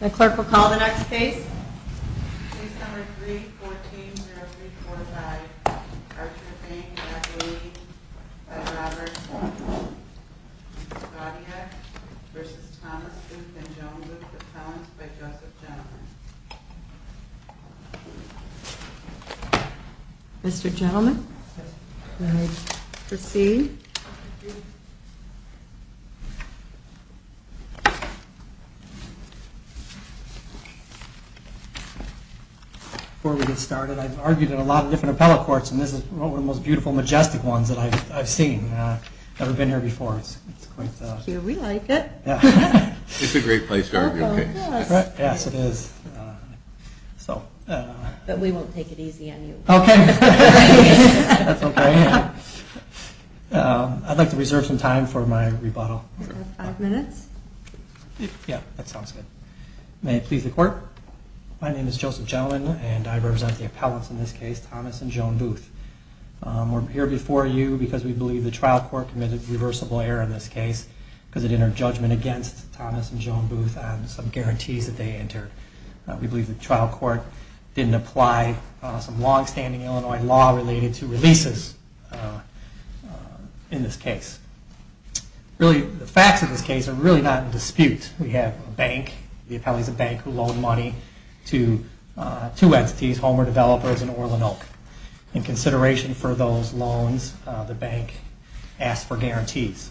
The clerk will call the next case. Case number 3-14-0345, Archer Bank v. McLean v. Roberts, Scotia v. Thomas, Duke v. Jones of the Towns v. Joseph Gentleman. Mr. Gentleman, may I proceed? Before we get started, I've argued in a lot of different appellate courts, and this is one of the most beautiful, majestic ones that I've seen. I've never been here before. Here we like it. It's a great place to argue a case. Yes, it is. But we won't take it easy on you. Okay, that's okay. I'd like to reserve some time for my rebuttal. You have five minutes. Yeah, that sounds good. May it please the Court. My name is Joseph Gentleman, and I represent the appellates in this case, Thomas and Joan Booth. We're here before you because we believe the trial court committed reversible error in this case because it entered judgment against Thomas and Joan Booth on some guarantees that they entered. We believe the trial court didn't apply some long-standing Illinois law related to releases in this case. Really, the facts of this case are really not in dispute. We have a bank. The appellate is a bank who loaned money to two entities, Homer Developers and Orlin Oak. In consideration for those loans, the bank asked for guarantees.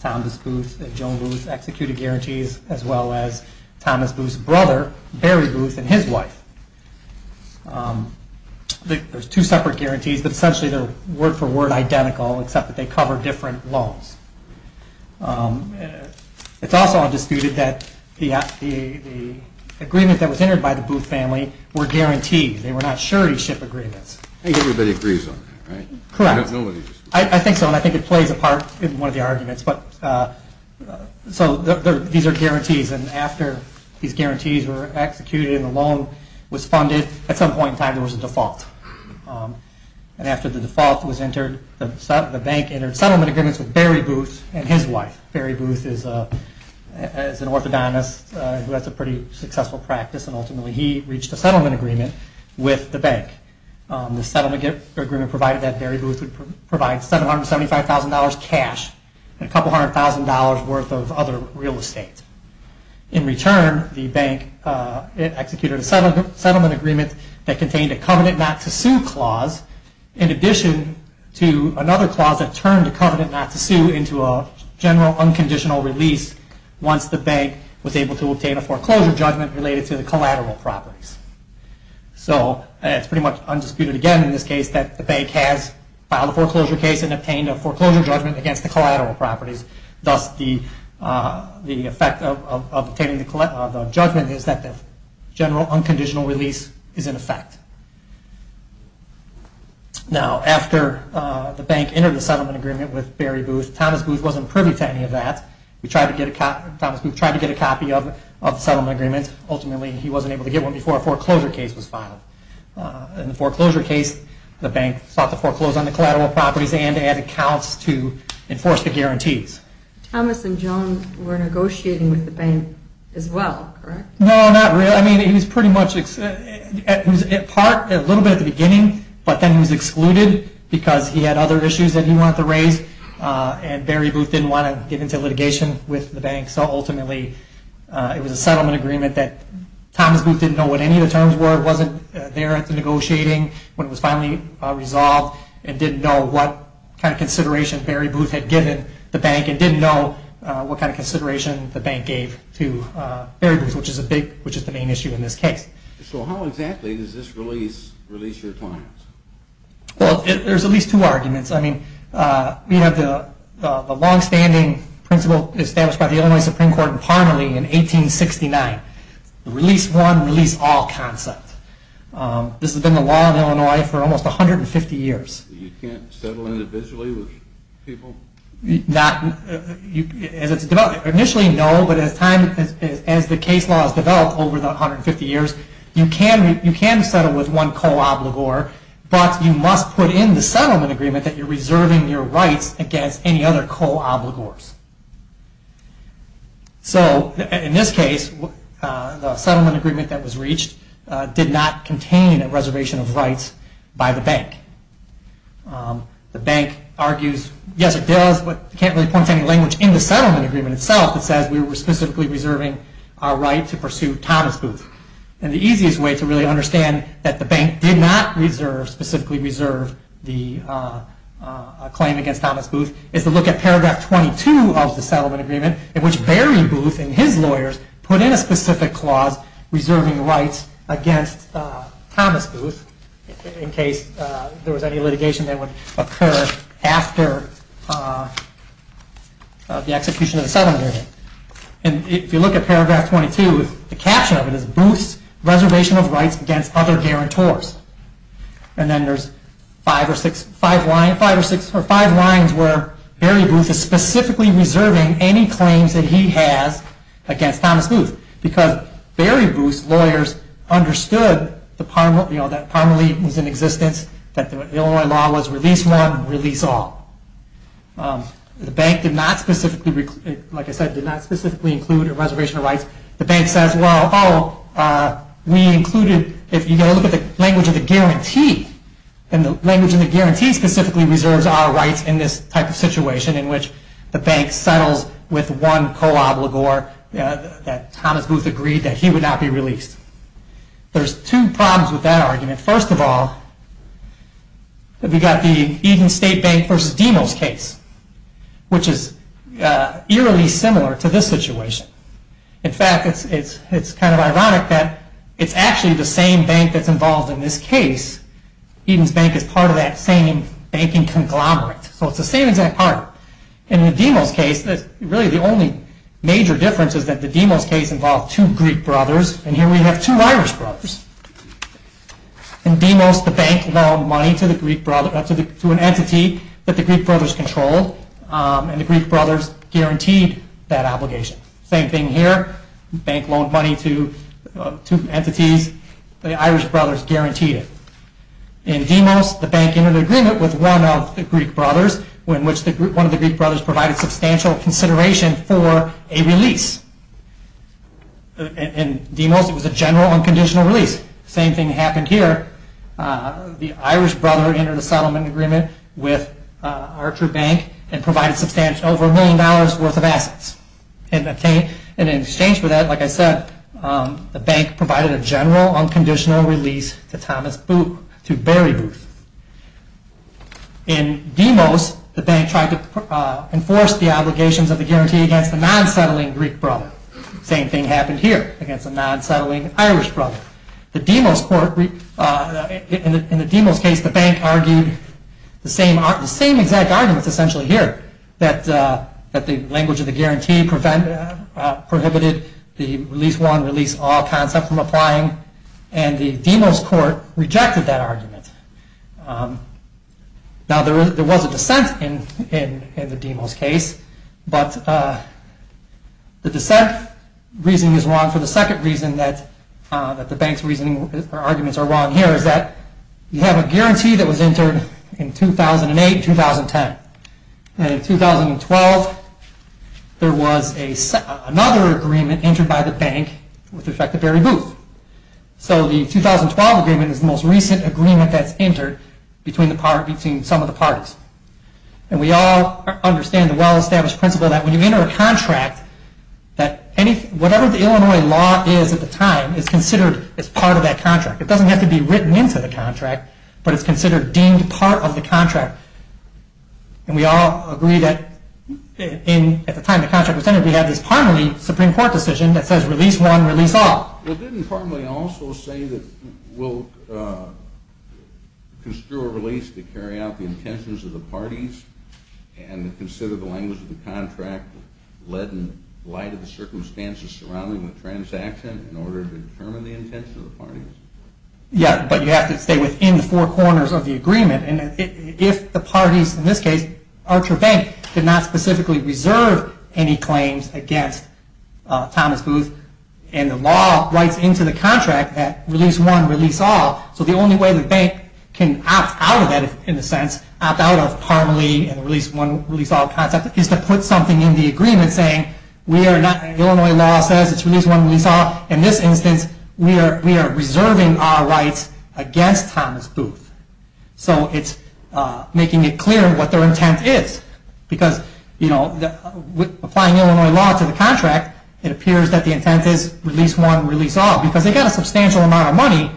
Thomas Booth and Joan Booth executed guarantees as well as Thomas Booth's brother, Barry Booth, and his wife. There's two separate guarantees, but essentially they're word-for-word identical except that they cover different loans. It's also undisputed that the agreement that was entered by the Booth family were guarantees. They were not surety ship agreements. I think everybody agrees on that, right? Correct. Nobody disagrees. I think so, and I think it plays a part in one of the arguments. These are guarantees, and after these guarantees were executed and the loan was funded, at some point in time there was a default. After the default was entered, the bank entered settlement agreements with Barry Booth and his wife. Barry Booth is an orthodontist who has a pretty successful practice, and ultimately he reached a settlement agreement with the bank. The settlement agreement provided that Barry Booth would provide $775,000 cash and a couple hundred thousand dollars worth of other real estate. In return, the bank executed a settlement agreement that contained a covenant not to sue clause, in addition to another clause that turned a covenant not to sue into a general unconditional release once the bank was able to obtain a foreclosure judgment related to the collateral properties. So, it's pretty much undisputed again in this case that the bank has filed a foreclosure case and obtained a foreclosure judgment against the collateral properties. Thus, the effect of obtaining the judgment is that the general unconditional release is in effect. Now, after the bank entered the settlement agreement with Barry Booth, Thomas Booth wasn't privy to any of that. Thomas Booth tried to get a copy of the settlement agreement. Ultimately, he wasn't able to get one before a foreclosure case was filed. In the foreclosure case, the bank sought to foreclose on the collateral properties and add accounts to enforce the guarantees. Thomas and Joan were negotiating with the bank as well, correct? No, not really. I mean, he was pretty much at part, a little bit at the beginning, but then he was excluded because he had other issues that he wanted to raise and Barry Booth didn't want to get into litigation with the bank. So, ultimately, it was a settlement agreement that Thomas Booth didn't know what any of the terms were, wasn't there at the negotiating when it was finally resolved, and didn't know what kind of consideration Barry Booth had given the bank and didn't know what kind of consideration the bank gave to Barry Booth, which is the main issue in this case. So, how exactly does this release your clients? Well, there's at least two arguments. I mean, we have the long-standing principle established by the Illinois Supreme Court in Parnelly in 1869, the release one, release all concept. This has been the law in Illinois for almost 150 years. You can't settle individually with people? Initially, no, but as the case law has developed over the 150 years, you can settle with one co-obligor, but you must put in the settlement agreement that you're reserving your rights against any other co-obligors. So, in this case, the settlement agreement that was reached did not contain a reservation of rights by the bank. The bank argues, yes it does, but can't really point to any language in the settlement agreement itself that says we were specifically reserving our right to pursue Thomas Booth. And the easiest way to really understand that the bank did not specifically reserve the claim against Thomas Booth is to look at paragraph 22 of the settlement agreement, in which Barry Booth and his lawyers put in a specific clause reserving rights against Thomas Booth in case there was any litigation that would occur after the execution of the settlement agreement. If you look at paragraph 22, the caption of it is, Booth's reservation of rights against other guarantors. And then there's five lines where Barry Booth is specifically reserving any claims that he has against Thomas Booth because Barry Booth's lawyers understood that Parmalee was in existence, that the Illinois law was release one, release all. The bank did not specifically include a reservation of rights. The bank says, well, we included, if you look at the language of the guarantee, and the language of the guarantee specifically reserves our rights in this type of situation in which the bank settles with one co-obligor that Thomas Booth agreed that he would not be released. There's two problems with that argument. First of all, we've got the Eden State Bank versus Demos case, which is eerily similar to this situation. In fact, it's kind of ironic that it's actually the same bank that's involved in this case. Eden's Bank is part of that same banking conglomerate, so it's the same exact partner. In the Demos case, really the only major difference is that the Demos case involved two Greek brothers, and here we have two Irish brothers. In Demos, the bank loaned money to an entity that the Greek brothers controlled, and the Greek brothers guaranteed that obligation. Same thing here, bank loaned money to two entities, the Irish brothers guaranteed it. In Demos, the bank entered an agreement with one of the Greek brothers in which one of the Greek brothers provided substantial consideration for a release. In Demos, it was a general, unconditional release. Same thing happened here. The Irish brother entered a settlement agreement with Archer Bank and provided over a million dollars worth of assets. In exchange for that, like I said, the bank provided a general, unconditional release to Barry Booth. In Demos, the bank tried to enforce the obligations of the guarantee against a non-settling Greek brother. Same thing happened here, against a non-settling Irish brother. In the Demos case, the bank argued the same exact arguments essentially here, that the language of the guarantee prohibited the release one, release all concept from applying, and the Demos court rejected that argument. Now, there was a dissent in the Demos case, but the dissent reasoning is wrong for the second reason that the bank's arguments are wrong here, is that you have a guarantee that was entered in 2008, 2010. In 2012, there was another agreement entered by the bank with the effect of Barry Booth. So the 2012 agreement is the most recent agreement that's entered between some of the parties. We all understand the well-established principle that when you enter a contract, that whatever the Illinois law is at the time is considered as part of that contract. It doesn't have to be written into the contract, but it's considered deemed part of the contract. And we all agree that at the time the contract was entered, we had this parmally Supreme Court decision that says release one, release all. Well, didn't parmally also say that we'll construe a release to carry out the intentions of the parties, and consider the language of the contract led in light of the circumstances surrounding the transaction in order to determine the intentions of the parties? Yeah, but you have to stay within the four corners of the agreement. And if the parties, in this case, Archer Bank, did not specifically reserve any claims against Thomas Booth, and the law writes into the contract that release one, release all, so the only way the bank can opt out of that in a sense, opt out of parmally and the release one, release all concept, is to put something in the agreement saying Illinois law says it's release one, release all. In this instance, we are reserving our rights against Thomas Booth. So it's making it clear what their intent is. Because with applying Illinois law to the contract, it appears that the intent is release one, release all, because they got a substantial amount of money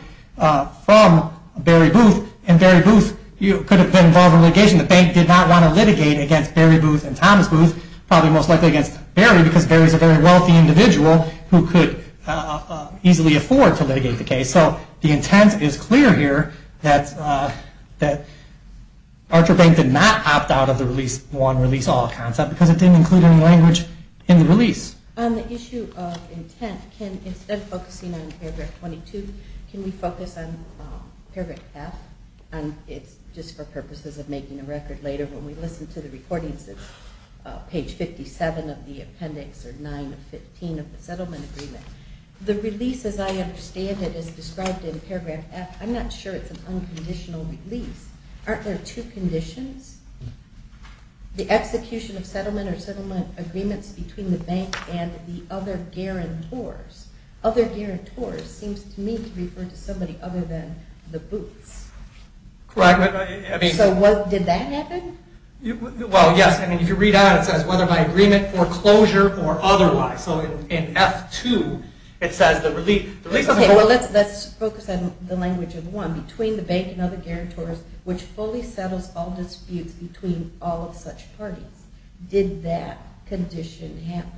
from Barry Booth, and Barry Booth could have been involved in litigation. The bank did not want to litigate against Barry Booth and Thomas Booth, probably most likely against Barry, because Barry is a very wealthy individual who could easily afford to litigate the case. So the intent is clear here that Archer Bank did not opt out of the release one, release all concept, because it didn't include any language in the release. On the issue of intent, can, instead of focusing on paragraph 22, can we focus on paragraph F? And it's just for purposes of making a record later, when we listen to the recordings, it's page 57 of the appendix, or 9 of 15 of the settlement agreement. The release, as I understand it, is described in paragraph F. I'm not sure it's an unconditional release. Aren't there two conditions? The execution of settlement or settlement agreements between the bank and the other guarantors. Other guarantors seems to me to refer to somebody other than the Booths. Correct. So did that happen? Well, yes. If you read on, it says whether by agreement, foreclosure, or otherwise. So in F2, it says the release. Let's focus on the language of one, between the bank and other guarantors, which fully settles all disputes between all of such parties. Did that condition happen?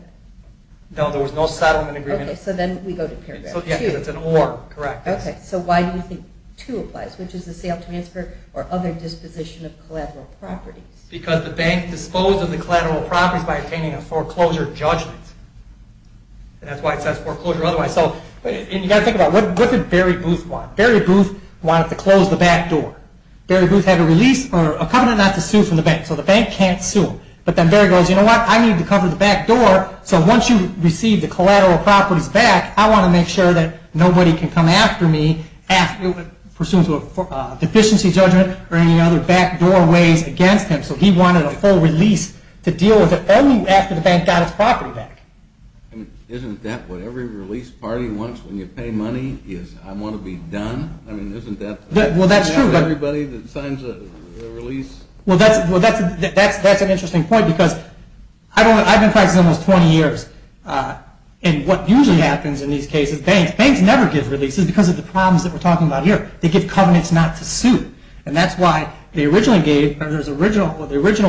No, there was no settlement agreement. So then we go to paragraph 2. It's an or, correct. Okay, so why do you think 2 applies, which is the sale, transfer, or other disposition of collateral properties? Because the bank disposed of the collateral properties by obtaining a foreclosure judgment. That's why it says foreclosure or otherwise. You've got to think about what did Barry Booth want? Barry Booth wanted to close the back door. Barry Booth had a release or a covenant not to sue from the bank, so the bank can't sue him. But then Barry goes, you know what, I need to cover the back door, so once you receive the collateral properties back, I want to make sure that nobody can come after me, pursuant to a deficiency judgment or any other back door ways against him. So he wanted a full release to deal with it only after the bank got its property back. Isn't that what every release party wants when you pay money, is I want to be done? I mean, isn't that what happens to everybody that signs a release? Well, that's an interesting point because I've been practicing almost 20 years, and what usually happens in these cases is banks never give releases because of the problems that we're talking about here. They give covenants not to sue, and that's why the original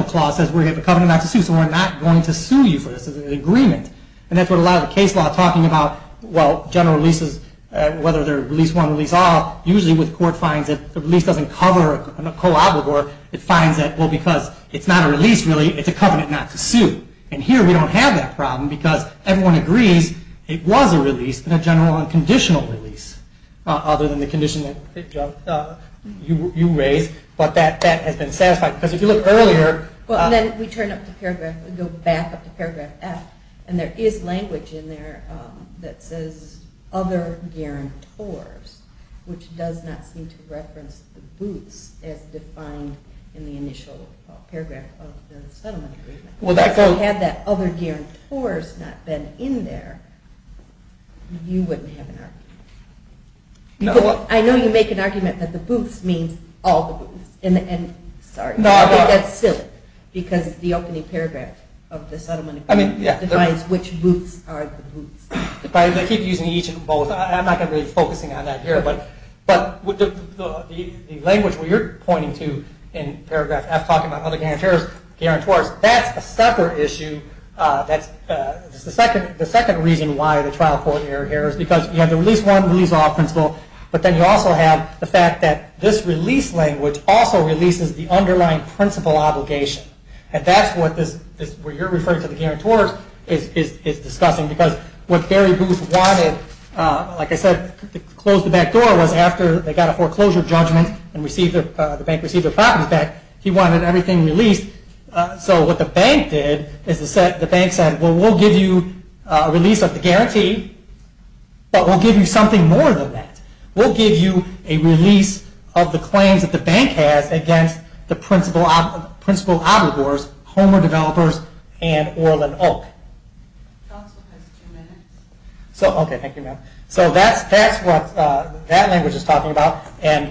clause says we have a covenant not to sue, so we're not going to sue you for this agreement. And that's what a lot of the case law is talking about. Well, general releases, whether they're release one, release all, usually the court finds that the release doesn't cover a collateral. It finds that, well, because it's not a release really, it's a covenant not to sue. And here we don't have that problem because everyone agrees it was a release and a general unconditional release other than the condition that you raised, but that has been satisfied because if you look earlier... Well, then we turn up to paragraph, go back up to paragraph F, and there is language in there that says other guarantors, which does not seem to reference the booths as defined in the initial paragraph of the settlement agreement. If you had that other guarantors not been in there, you wouldn't have an argument. I know you make an argument that the booths means all the booths, and sorry, I think that's silly because the opening paragraph of the settlement agreement defines which booths are the booths. They keep using each and both. I'm not going to be focusing on that here, but the language where you're pointing to in paragraph F when you're talking about other guarantors, that's a separate issue. The second reason why the trial court error here is because you have the release one, release all principle, but then you also have the fact that this release language also releases the underlying principle obligation, and that's what you're referring to the guarantors as discussing because what Gary Booth wanted, like I said, to close the back door was after they got a foreclosure judgment and the bank received their properties back, he wanted everything released, so what the bank did is the bank said, well, we'll give you a release of the guarantee, but we'll give you something more than that. We'll give you a release of the claims that the bank has against the principle obligors, Homer developers, and Orland Oak. Counsel has two minutes. Okay, thank you, ma'am. So that's what that language is talking about, and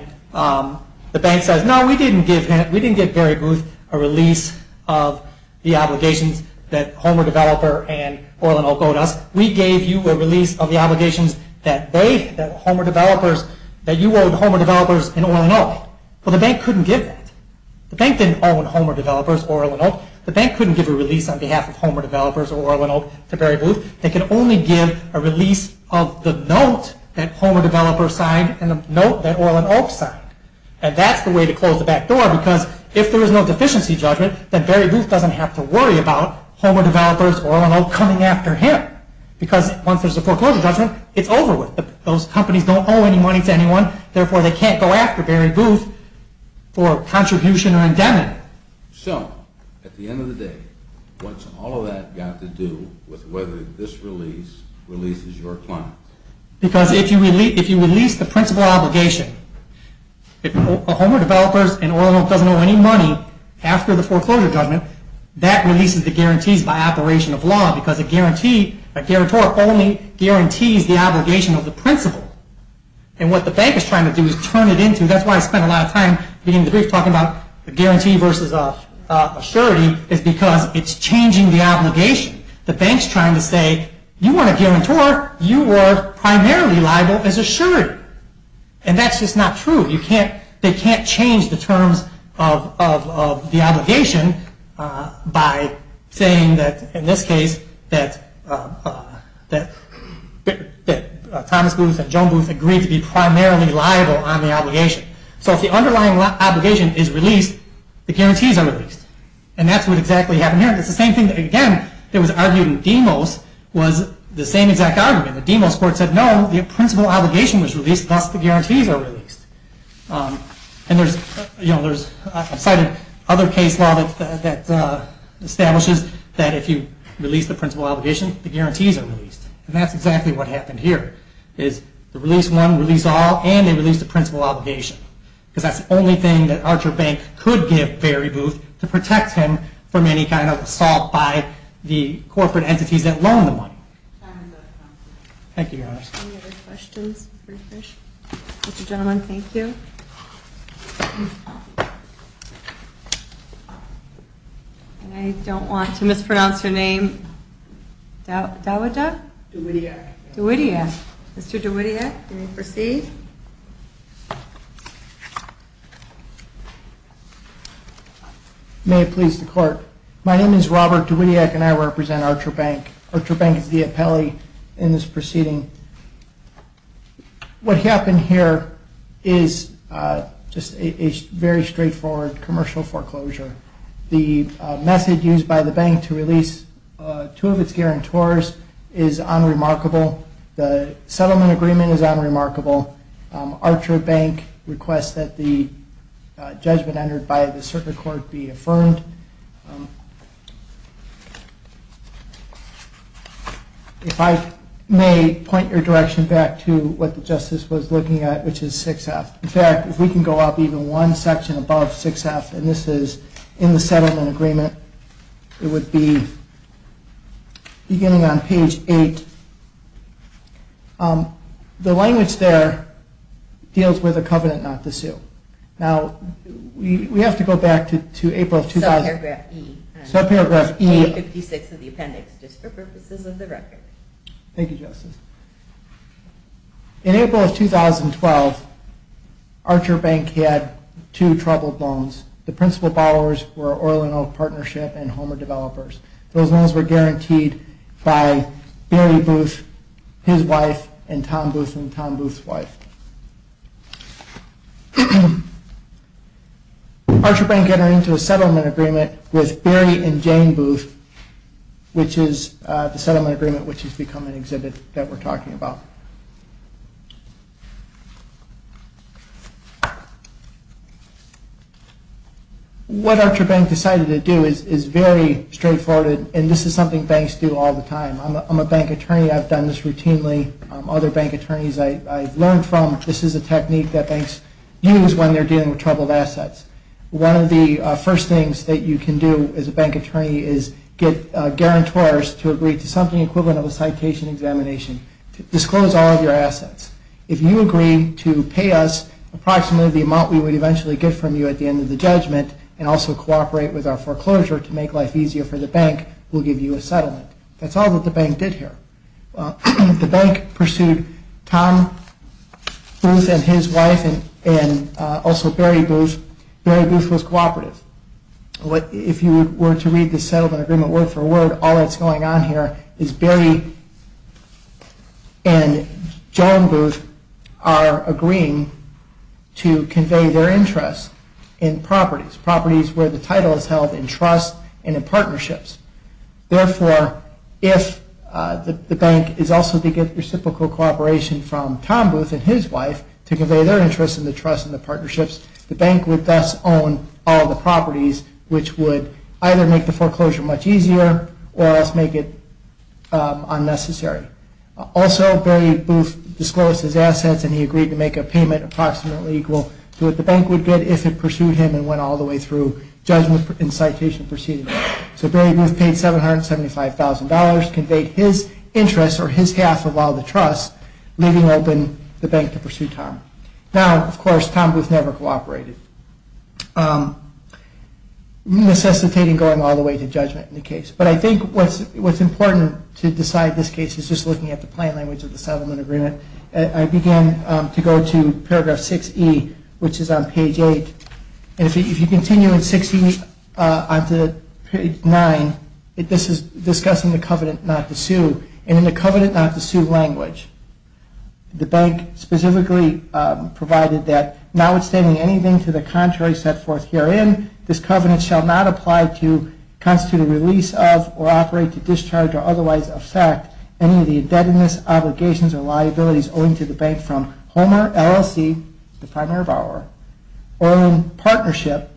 the bank says, no, we didn't give Gary Booth a release of the obligations that Homer developer and Orland Oak owed us. We gave you a release of the obligations that they, that Homer developers, that you owed Homer developers and Orland Oak, but the bank couldn't give that. The bank didn't owe Homer developers Orland Oak. The bank couldn't give a release on behalf of Homer developers or Orland Oak to Gary Booth. They could only give a release of the note that Homer developers signed and the note that Orland Oak signed, and that's the way to close the back door, because if there is no deficiency judgment, then Gary Booth doesn't have to worry about Homer developers or Orland Oak coming after him, because once there's a foreclosure judgment, it's over with. Those companies don't owe any money to anyone, therefore they can't go after Gary Booth for contribution or indemnity. So, at the end of the day, what's all of that got to do with whether this release releases your client? Because if you release the principal obligation, if Homer developers and Orland Oak doesn't owe any money after the foreclosure judgment, that releases the guarantees by operation of law, because a guarantee, a guarantor only guarantees the obligation of the principal. And what the bank is trying to do is turn it into, that's why I spent a lot of time in the beginning of the brief talking about the guarantee versus a surety, is because it's changing the obligation. The bank's trying to say, you weren't a guarantor, you were primarily liable as a surety. And that's just not true. They can't change the terms of the obligation by saying that, in this case, that Thomas Booth and Joan Booth agreed to be primarily liable on the obligation. So if the underlying obligation is released, the guarantees are released. And that's what exactly happened here. It's the same thing, again, that was argued in Demos, was the same exact argument. The Demos court said, no, the principal obligation was released, thus the guarantees are released. And there's, you know, I've cited other case law that establishes that if you release the principal obligation, the guarantees are released. And that's exactly what happened here. The release one, release all, and they released the principal obligation. Because that's the only thing that Archer Bank could give Barry Booth to protect him from any kind of assault by the corporate entities that loaned the money. Thank you, Your Honor. Any other questions before we finish? Mr. Gentleman, thank you. And I don't want to mispronounce your name. Dawida? DeWittia. DeWittia. Mr. DeWittia, you may proceed. May it please the court. My name is Robert DeWittia, and I represent Archer Bank. Archer Bank is the appellee in this proceeding. What happened here is just a very straightforward commercial foreclosure. The method used by the bank to release two of its guarantors is unremarkable. The settlement agreement is unremarkable. Archer Bank requests that the judgment entered by the circuit court be affirmed. If I may point your direction back to what the justice was looking at, which is 6F. In fact, if we can go up even one section above 6F, and this is in the settlement agreement, it would be beginning on page 8. The language there deals with a covenant not to sue. Now, we have to go back to April of 2000. Subparagraph E. Subparagraph E. Page 56 of the appendix, just for purposes of the record. Thank you, Justice. In April of 2012, Archer Bank had two troubled loans. The principal borrowers were Orland Oak Partnership and Homer Developers. Those loans were guaranteed by Barry Booth, his wife, and Tom Booth and Tom Booth's wife. Archer Bank entered into a settlement agreement with Barry and Jane Booth, which is the settlement agreement which has become an exhibit that we're talking about. What Archer Bank decided to do is very straightforward, and this is something banks do all the time. I'm a bank attorney. I've done this routinely. Other bank attorneys I've learned from, this is a technique that banks use when they're dealing with troubled assets. One of the first things that you can do as a bank attorney of a citation examination. Disclose it. Disclose all of your assets. If you agree to pay us approximately the amount we would eventually get from you at the end of the judgment and also cooperate with our foreclosure to make life easier for the bank, we'll give you a settlement. That's all that the bank did here. The bank pursued Tom Booth and his wife, and also Barry Booth. Barry Booth was cooperative. If you were to read the settlement agreement word for word, all that's going on here is Barry and Joan Booth are agreeing to convey their interests in properties, properties where the title is held in trust and in partnerships. Therefore, if the bank is also to get reciprocal cooperation from Tom Booth and his wife to convey their interests in the trust and the partnerships, the bank would thus own all the properties, which would either make the foreclosure much easier or else make it unnecessary. Also, Barry Booth disclosed his assets, and he agreed to make a payment approximately equal to what the bank would get if it pursued him and went all the way through judgment and citation proceedings. So Barry Booth paid $775,000, conveyed his interests or his half of all the trust, leaving open the bank to pursue Tom. Now, of course, Tom Booth never cooperated. So, necessitating going all the way to judgment in the case. But I think what's important to decide this case is just looking at the plain language of the settlement agreement. I begin to go to paragraph 6E, which is on page 8. And if you continue in 6E on to page 9, this is discussing the covenant not to sue. And in the covenant not to sue language, the bank specifically provided that, notwithstanding anything to the contrary set forth herein, this covenant shall not apply to constitute a release of or operate to discharge or otherwise affect any of the indebtedness, obligations, or liabilities owing to the bank from Homer LLC, the primary borrower, or in partnership,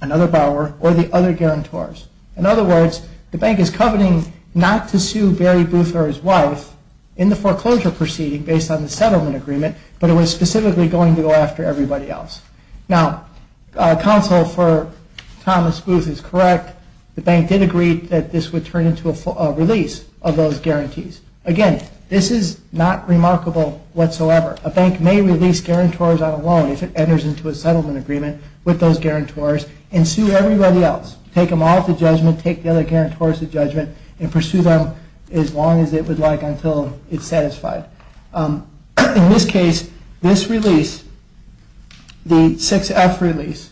another borrower, or the other guarantors. In other words, the bank is covenanting not to sue Barry Booth or his wife in the foreclosure proceeding based on the settlement agreement, but it was specifically going to go after everybody else. Now, counsel for Thomas Booth is correct. The bank did agree that this would turn into a release of those guarantees. Again, this is not remarkable whatsoever. A bank may release guarantors on a loan if it enters into a settlement agreement with those guarantors and sue everybody else, take them all to judgment, and pursue them as long as it would like until it's satisfied. In this case, this release, the 6F release,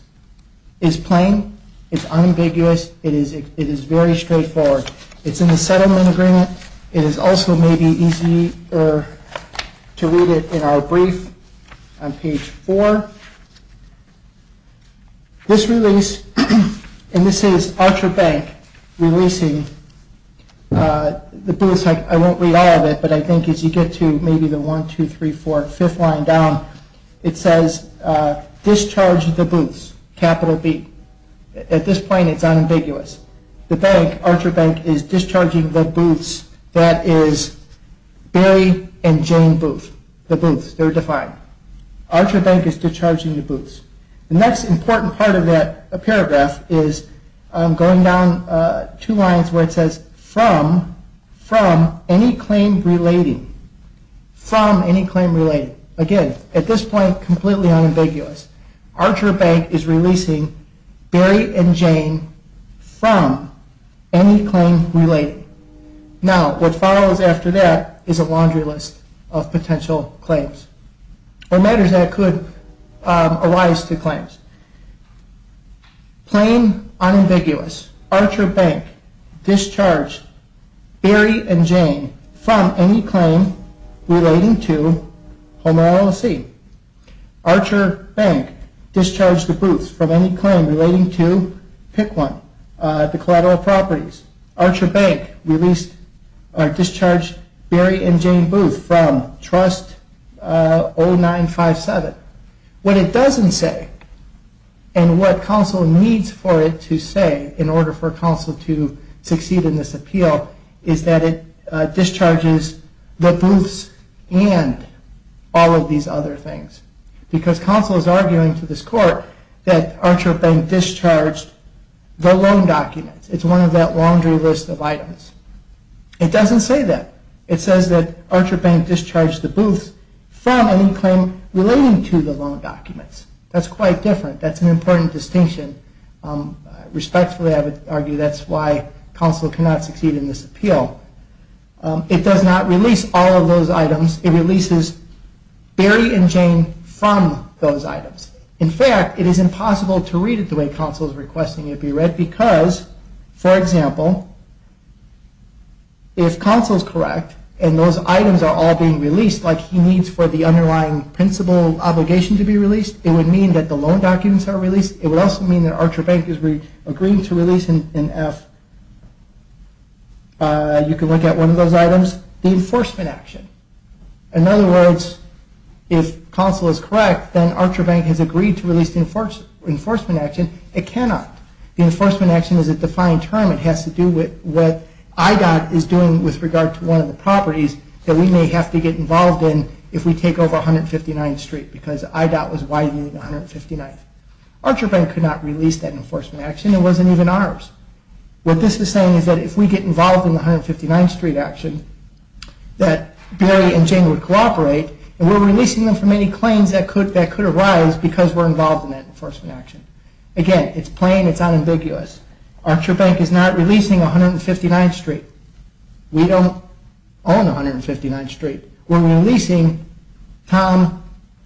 is plain, it's unambiguous, it is very straightforward. It's in the settlement agreement. It is also maybe easier to read it in our brief on page 4. This release, and this is Archer Bank releasing the Booths. I won't read all of it, but I think as you get to maybe the 1, 2, 3, 4, 5th line down, it says discharge the Booths, capital B. At this point, it's unambiguous. The bank, Archer Bank, is discharging the Booths that is Barry and Jane Booth, the Booths. They're defined. Archer Bank is discharging the Booths. The next important part of that paragraph is going down two lines where it says from any claim relating, from any claim relating. Again, at this point, completely unambiguous. Archer Bank is releasing Barry and Jane from any claim relating. Now, what follows after that is a laundry list of potential claims or matters that could arise to claims. Plain unambiguous. Archer Bank discharged Barry and Jane from any claim relating to Home RLSE. Archer Bank discharged the Booths from any claim relating to PICONE, the collateral properties. Archer Bank discharged Barry and Jane Booth from Trust 0957. What it doesn't say, and what counsel needs for it to say in order for counsel to succeed in this appeal, is that it discharges the Booths and all of these other things. Because counsel is arguing to this court that Archer Bank discharged the loan documents. It's one of that laundry list of items. It doesn't say that. It says that Archer Bank discharged the Booths from any claim relating to the loan documents. That's quite different. That's an important distinction. Respectfully, I would argue that's why counsel cannot succeed in this appeal. It does not release all of those items. It releases Barry and Jane from those items. In fact, it is impossible to read it the way counsel is requesting it be read because, for example, if counsel is correct and those items are all being released like he needs for the underlying principal obligation to be released, it would mean that the loan documents are released. It would also mean that Archer Bank is agreeing to release in F, you can look at one of those items, the enforcement action. In other words, if counsel is correct, then Archer Bank has agreed to release the enforcement action. It cannot. The enforcement action is a defined term. It has to do with what IDOT is doing with regard to one of the properties that we may have to get involved in if we take over 159th Street because IDOT was widening 159th. Archer Bank could not release that enforcement action. It wasn't even ours. What this is saying is that if we get involved in the 159th Street action, that Barry and Jane would cooperate, and we're releasing them from any claims that could arise because we're involved in that enforcement action. Again, it's plain. It's unambiguous. Archer Bank is not releasing 159th Street. We don't own 159th Street. We're releasing Tom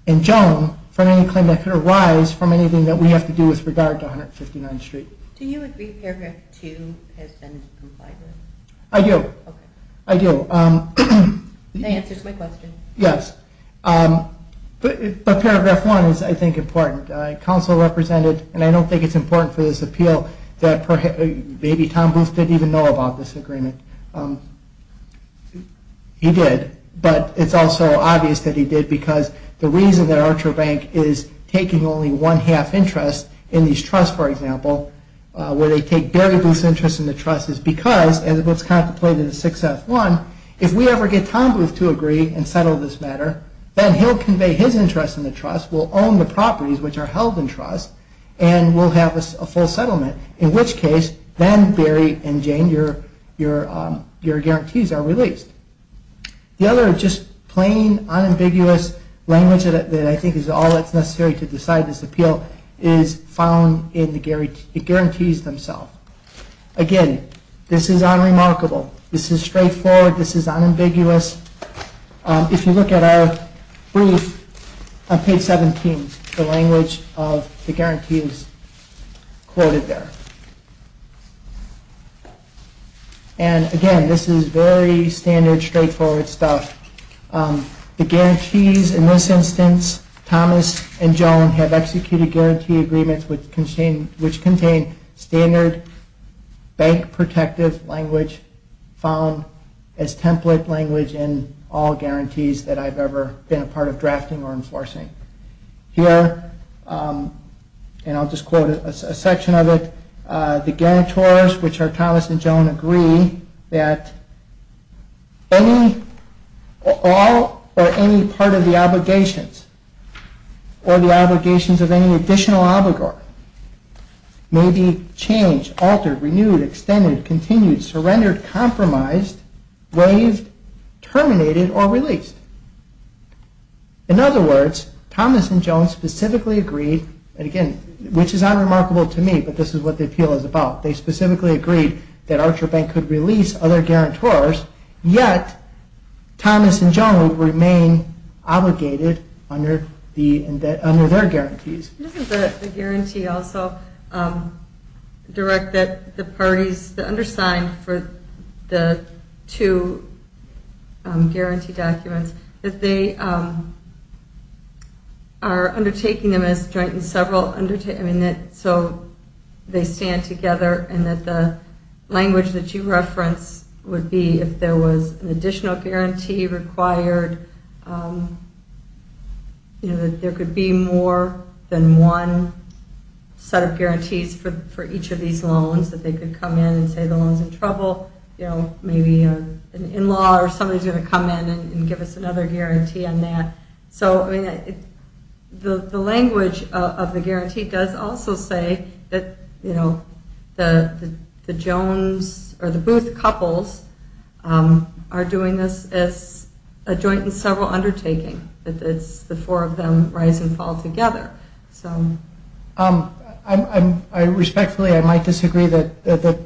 and Joan from any claim that could arise from anything that we have to do with regard to 159th Street. Do you agree paragraph 2 has been complied with? I do. Okay. I do. That answers my question. Yes. But paragraph 1 is, I think, important. Counsel represented, and I don't think it's important for this appeal that maybe Tom Booth didn't even know about this agreement. He did. But it's also obvious that he did because the reason that Archer Bank is taking only one half interest in these trusts, for example, where they take Barry Booth's interest in the trust is because, as it was contemplated in 6F1, if we ever get Tom Booth to agree and settle this matter, then he'll convey his interest in the trust, we'll own the properties which are held in trust, and we'll have a full settlement. In which case, then Barry and Jane, your guarantees are released. The other just plain, unambiguous language that I think is all that's necessary to decide this appeal is found in the guarantees themselves. Again, this is unremarkable. This is straightforward. This is unambiguous. If you look at our brief on page 17, the language of the guarantees quoted there. And again, this is very standard, straightforward stuff. The guarantees in this instance, Thomas and Joan have executed guarantee agreements which contain standard bank protective language found as template for drafting or enforcing. Here, and I'll just quote a section of it, the guarantors, which are Thomas and Joan, agree that all or any part of the obligations or the obligations of any additional obligor may be changed, altered, renewed, extended, continued, surrendered, compromised, waived, terminated, or released. In other words, Thomas and Joan specifically agreed, and again, which is unremarkable to me, but this is what the appeal is about. They specifically agreed that Archer Bank could release other guarantors, yet Thomas and Joan would remain obligated under their guarantees. This is the guarantee also, direct that the parties, the undersigned for the two guarantee documents, that they are undertaking them as joint in several, so they stand together, and that the language that you reference would be if there was an additional guarantee required, that there could be more than one set of guarantees for each of these loans, that they could come in and say the loan's in trouble, maybe an in-law or somebody's going to come in and give us another guarantee on that. The language of the guarantee does also say that the Booth couples are doing this as a joint in several undertaking, that it's the four of them rise and fall together. Respectfully, I might disagree that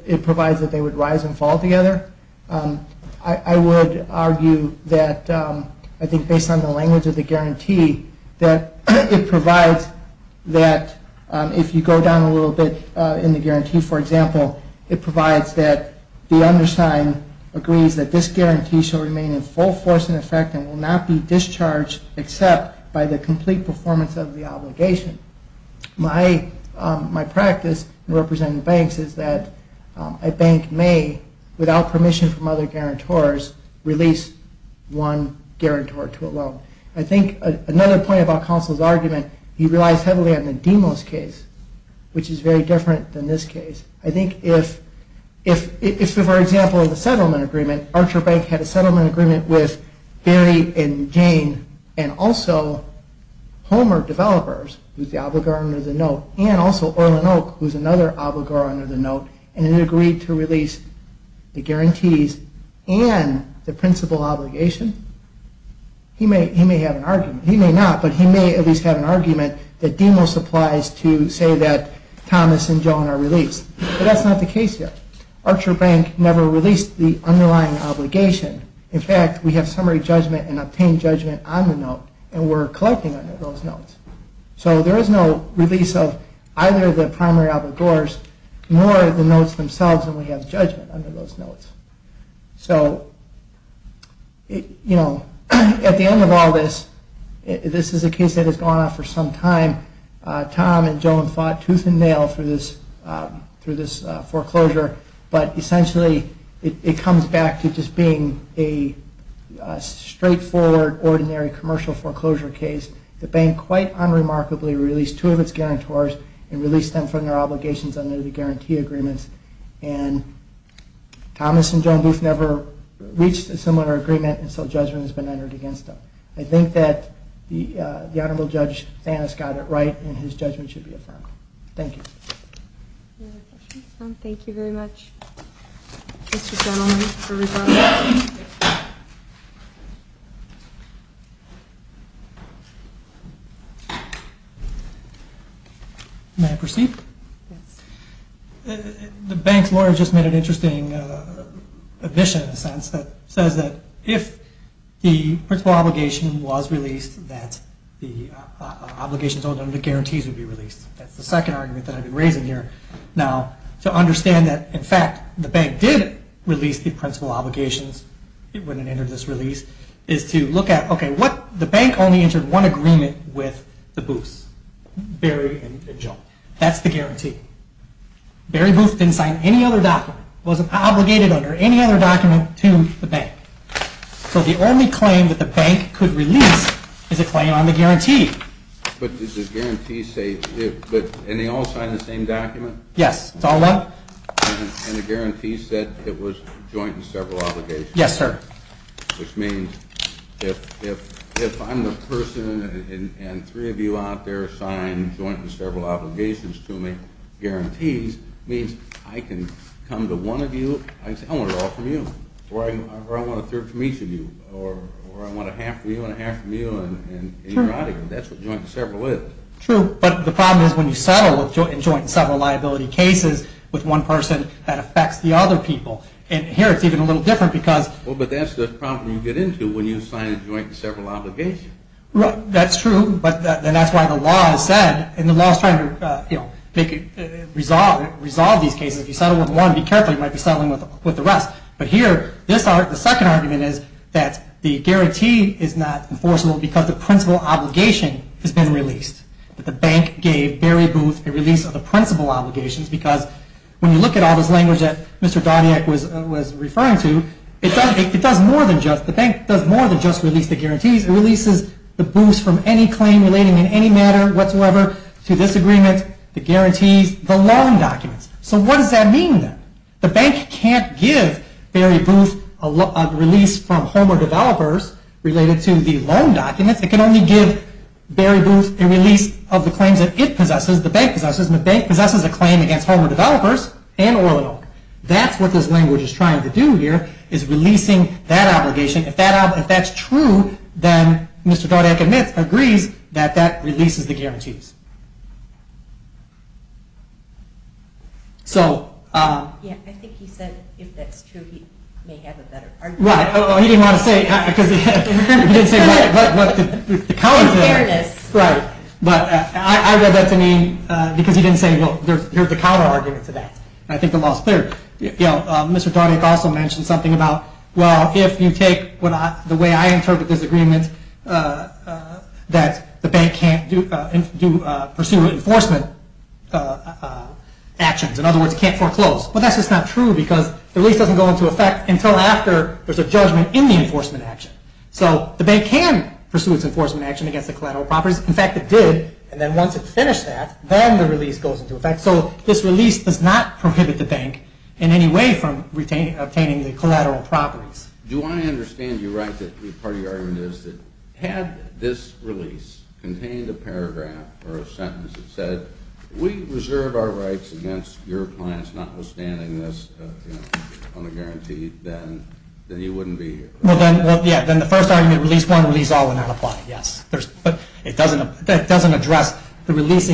it provides that they would rise and fall together. I would argue that I think based on the language of the guarantee that it provides that if you go down a little bit in the guarantee, for example, it provides that the undersigned agrees that this guarantee shall remain in full force and effect and will not be discharged except by the complete performance of the obligation. My practice in representing banks is that a bank may, without permission from other guarantors, release one guarantor to a loan. I think another point about Consol's argument, he relies heavily on the Demos case, which is very different than this case. I think if, for example, in the settlement agreement, Archer Bank had a settlement agreement with Barry and Jane and also Homer Developers, who's the obligor under the note, and also Earl and Oak, who's another obligor under the note, and it agreed to release the guarantees and the principal obligation, he may have an argument. He may not, but he may at least have an argument that Demos applies to say that Thomas and Joan are released. But that's not the case here. Archer Bank never released the underlying obligation. In fact, we have summary judgment and obtained judgment on the note, and we're collecting under those notes. So there is no release of either of the primary obligors, nor of the notes themselves, and we have judgment under those notes. So, you know, at the end of all this, this is a case that has gone on for some time. Tom and Joan fought tooth and nail through this foreclosure, but essentially it comes back to just being a straightforward, ordinary, commercial foreclosure case. The bank, quite unremarkably, released two of its guarantors and released them from their obligations under the guarantee agreements, and Thomas and Joan Booth never reached a similar agreement until judgment has been entered against them. I think that the Honorable Judge Thanos got it right, and his judgment should be affirmed. Thank you. Any other questions? Thank you very much, Mr. Gentleman, for your response. May I proceed? Yes. The bank's lawyer just made an interesting admission, in a sense, that says that if the principal obligation was released, that the obligations under the guarantees would be released. That's the second argument that I've been raising here. Now, to understand that, in fact, the bank did release the principal obligations when it entered this release, is to look at, okay, the bank only entered one agreement with the Booths, Barry and Joan. That's the guarantee. Barry Booth didn't sign any other document, wasn't obligated under any other document to the bank. So the only claim that the bank could release is a claim on the guarantee. But does the guarantee say, and they all signed the same document? Yes, it's all one. And the guarantee said it was joint and several obligations. Yes, sir. Which means if I'm the person, and three of you out there signed joint and several obligations to me, guarantees means I can come to one of you, I can say I want it all from you, or I want a third from each of you, or I want a half from you and a half from you, and that's what joint and several is. True, but the problem is when you settle in joint and several liability cases with one person, that affects the other people. And here it's even a little different because... Well, but that's the problem you get into when you sign a joint and several obligation. Right, that's true, and that's why the law is said, and the law is trying to resolve these cases. If you settle with one, be careful, you might be settling with the rest. But here, the second argument is that the guarantee is not enforceable because the principal obligation has been released. The bank gave Barry Booth a release of the principal obligations because when you look at all this language that Mr. Darniak was referring to, it does more than just... The bank does more than just release the guarantees, it releases the boost from any claim relating in any matter whatsoever to this agreement, the guarantees, the loan documents. So what does that mean then? The bank can't give Barry Booth a release from Homer Developers related to the loan documents. It can only give Barry Booth a release of the claims that it possesses, the bank possesses, and the bank possesses a claim against Homer Developers and Orlando. That's what this language is trying to do here, is releasing that obligation. If that's true, then Mr. Darniak admits, agrees, that that releases the guarantees. So... Yeah, I think he said if that's true he may have a better argument. Right, he didn't want to say... He didn't say... In fairness. Right. But I read that to mean... Because he didn't say, well, here's the counter argument to that. I think the law is clear. You know, Mr. Darniak also mentioned something about, well, if you take the way I interpret this agreement, that the bank can't pursue enforcement actions. In other words, it can't foreclose. But that's just not true because the release doesn't go into effect until after there's a judgment in the enforcement action. So the bank can pursue its enforcement action against the collateral properties. In fact, it did. And then once it finished that, then the release goes into effect. So this release does not prohibit the bank in any way from obtaining the collateral properties. Do I understand you right that part of your argument is that had this release contained a paragraph or a sentence that said, we reserve our rights against your clients notwithstanding this on the guarantee, then you wouldn't be here? Well, yeah, then the first argument, release one, release all, would not apply. Yes. But that doesn't address the release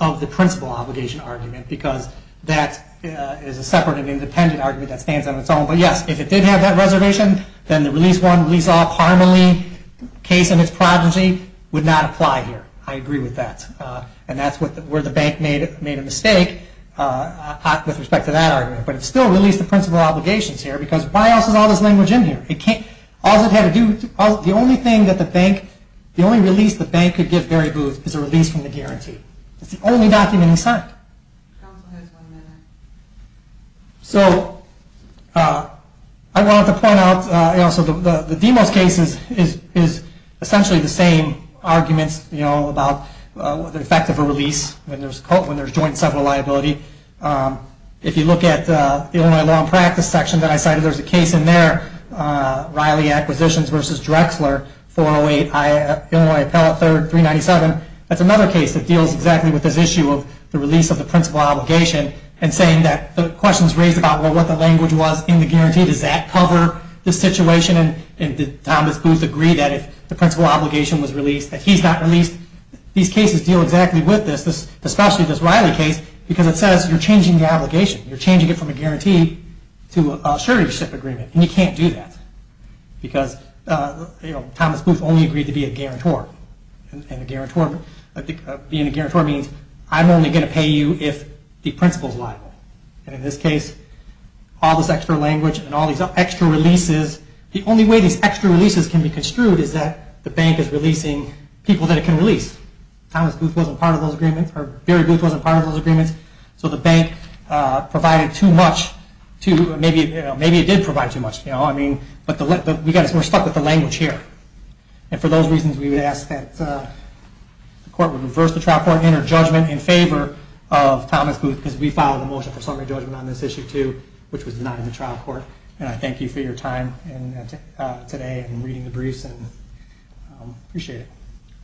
of the principal obligation argument because that is a separate and independent argument that stands on its own. But yes, if it did have that reservation, then the release one, release all, Parmelee case and its progeny would not apply here. I agree with that. And that's where the bank made a mistake with respect to that argument. But it still released the principal obligations here because why else is all this language in here? All it had to do, the only thing that the bank, the only release the bank could give Barry Booth is a release from the guarantee. It's the only document he signed. Counsel has one minute. So I wanted to point out, you know, the effect of a release when there's joint several liability. If you look at the Illinois Law and Practice section that I cited, there's a case in there, Riley Acquisitions v. Drexler, 408, Illinois Appellate 3rd, 397. That's another case that deals exactly with this issue of the release of the principal obligation and saying that the question was raised about what the language was in the guarantee. Does that cover the situation? And did Thomas Booth agree that if the principal obligation was released, that he's not released? These cases deal exactly with this, especially this Riley case, because it says you're changing the obligation. You're changing it from a guarantee to a surety ship agreement. And you can't do that because, you know, Thomas Booth only agreed to be a guarantor. And a guarantor, being a guarantor means I'm only going to pay you if the principal's liable. And in this case, all this extra language and all these extra releases, the only way these extra releases can be construed is that the bank is releasing people that it can release. Thomas Booth wasn't part of those agreements, or Barry Booth wasn't part of those agreements, so the bank provided too much. Maybe it did provide too much. But we're stuck with the language here. And for those reasons, we would ask that the court reverse the trial court and enter judgment in favor of Thomas Booth, because we filed a motion for summary judgment on this issue too, which was not in the trial court. And I thank you for your time today and reading the briefs. I appreciate it.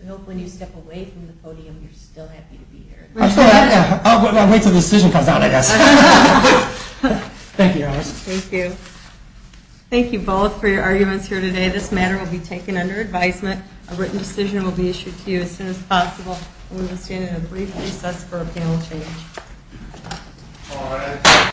I hope when you step away from the podium you're still happy to be here. I'll wait until the decision comes out, I guess. Thank you, Alice. Thank you. Thank you both for your arguments here today. This matter will be taken under advisement. A written decision will be issued to you as soon as possible. We will stand in a brief recess for a panel change.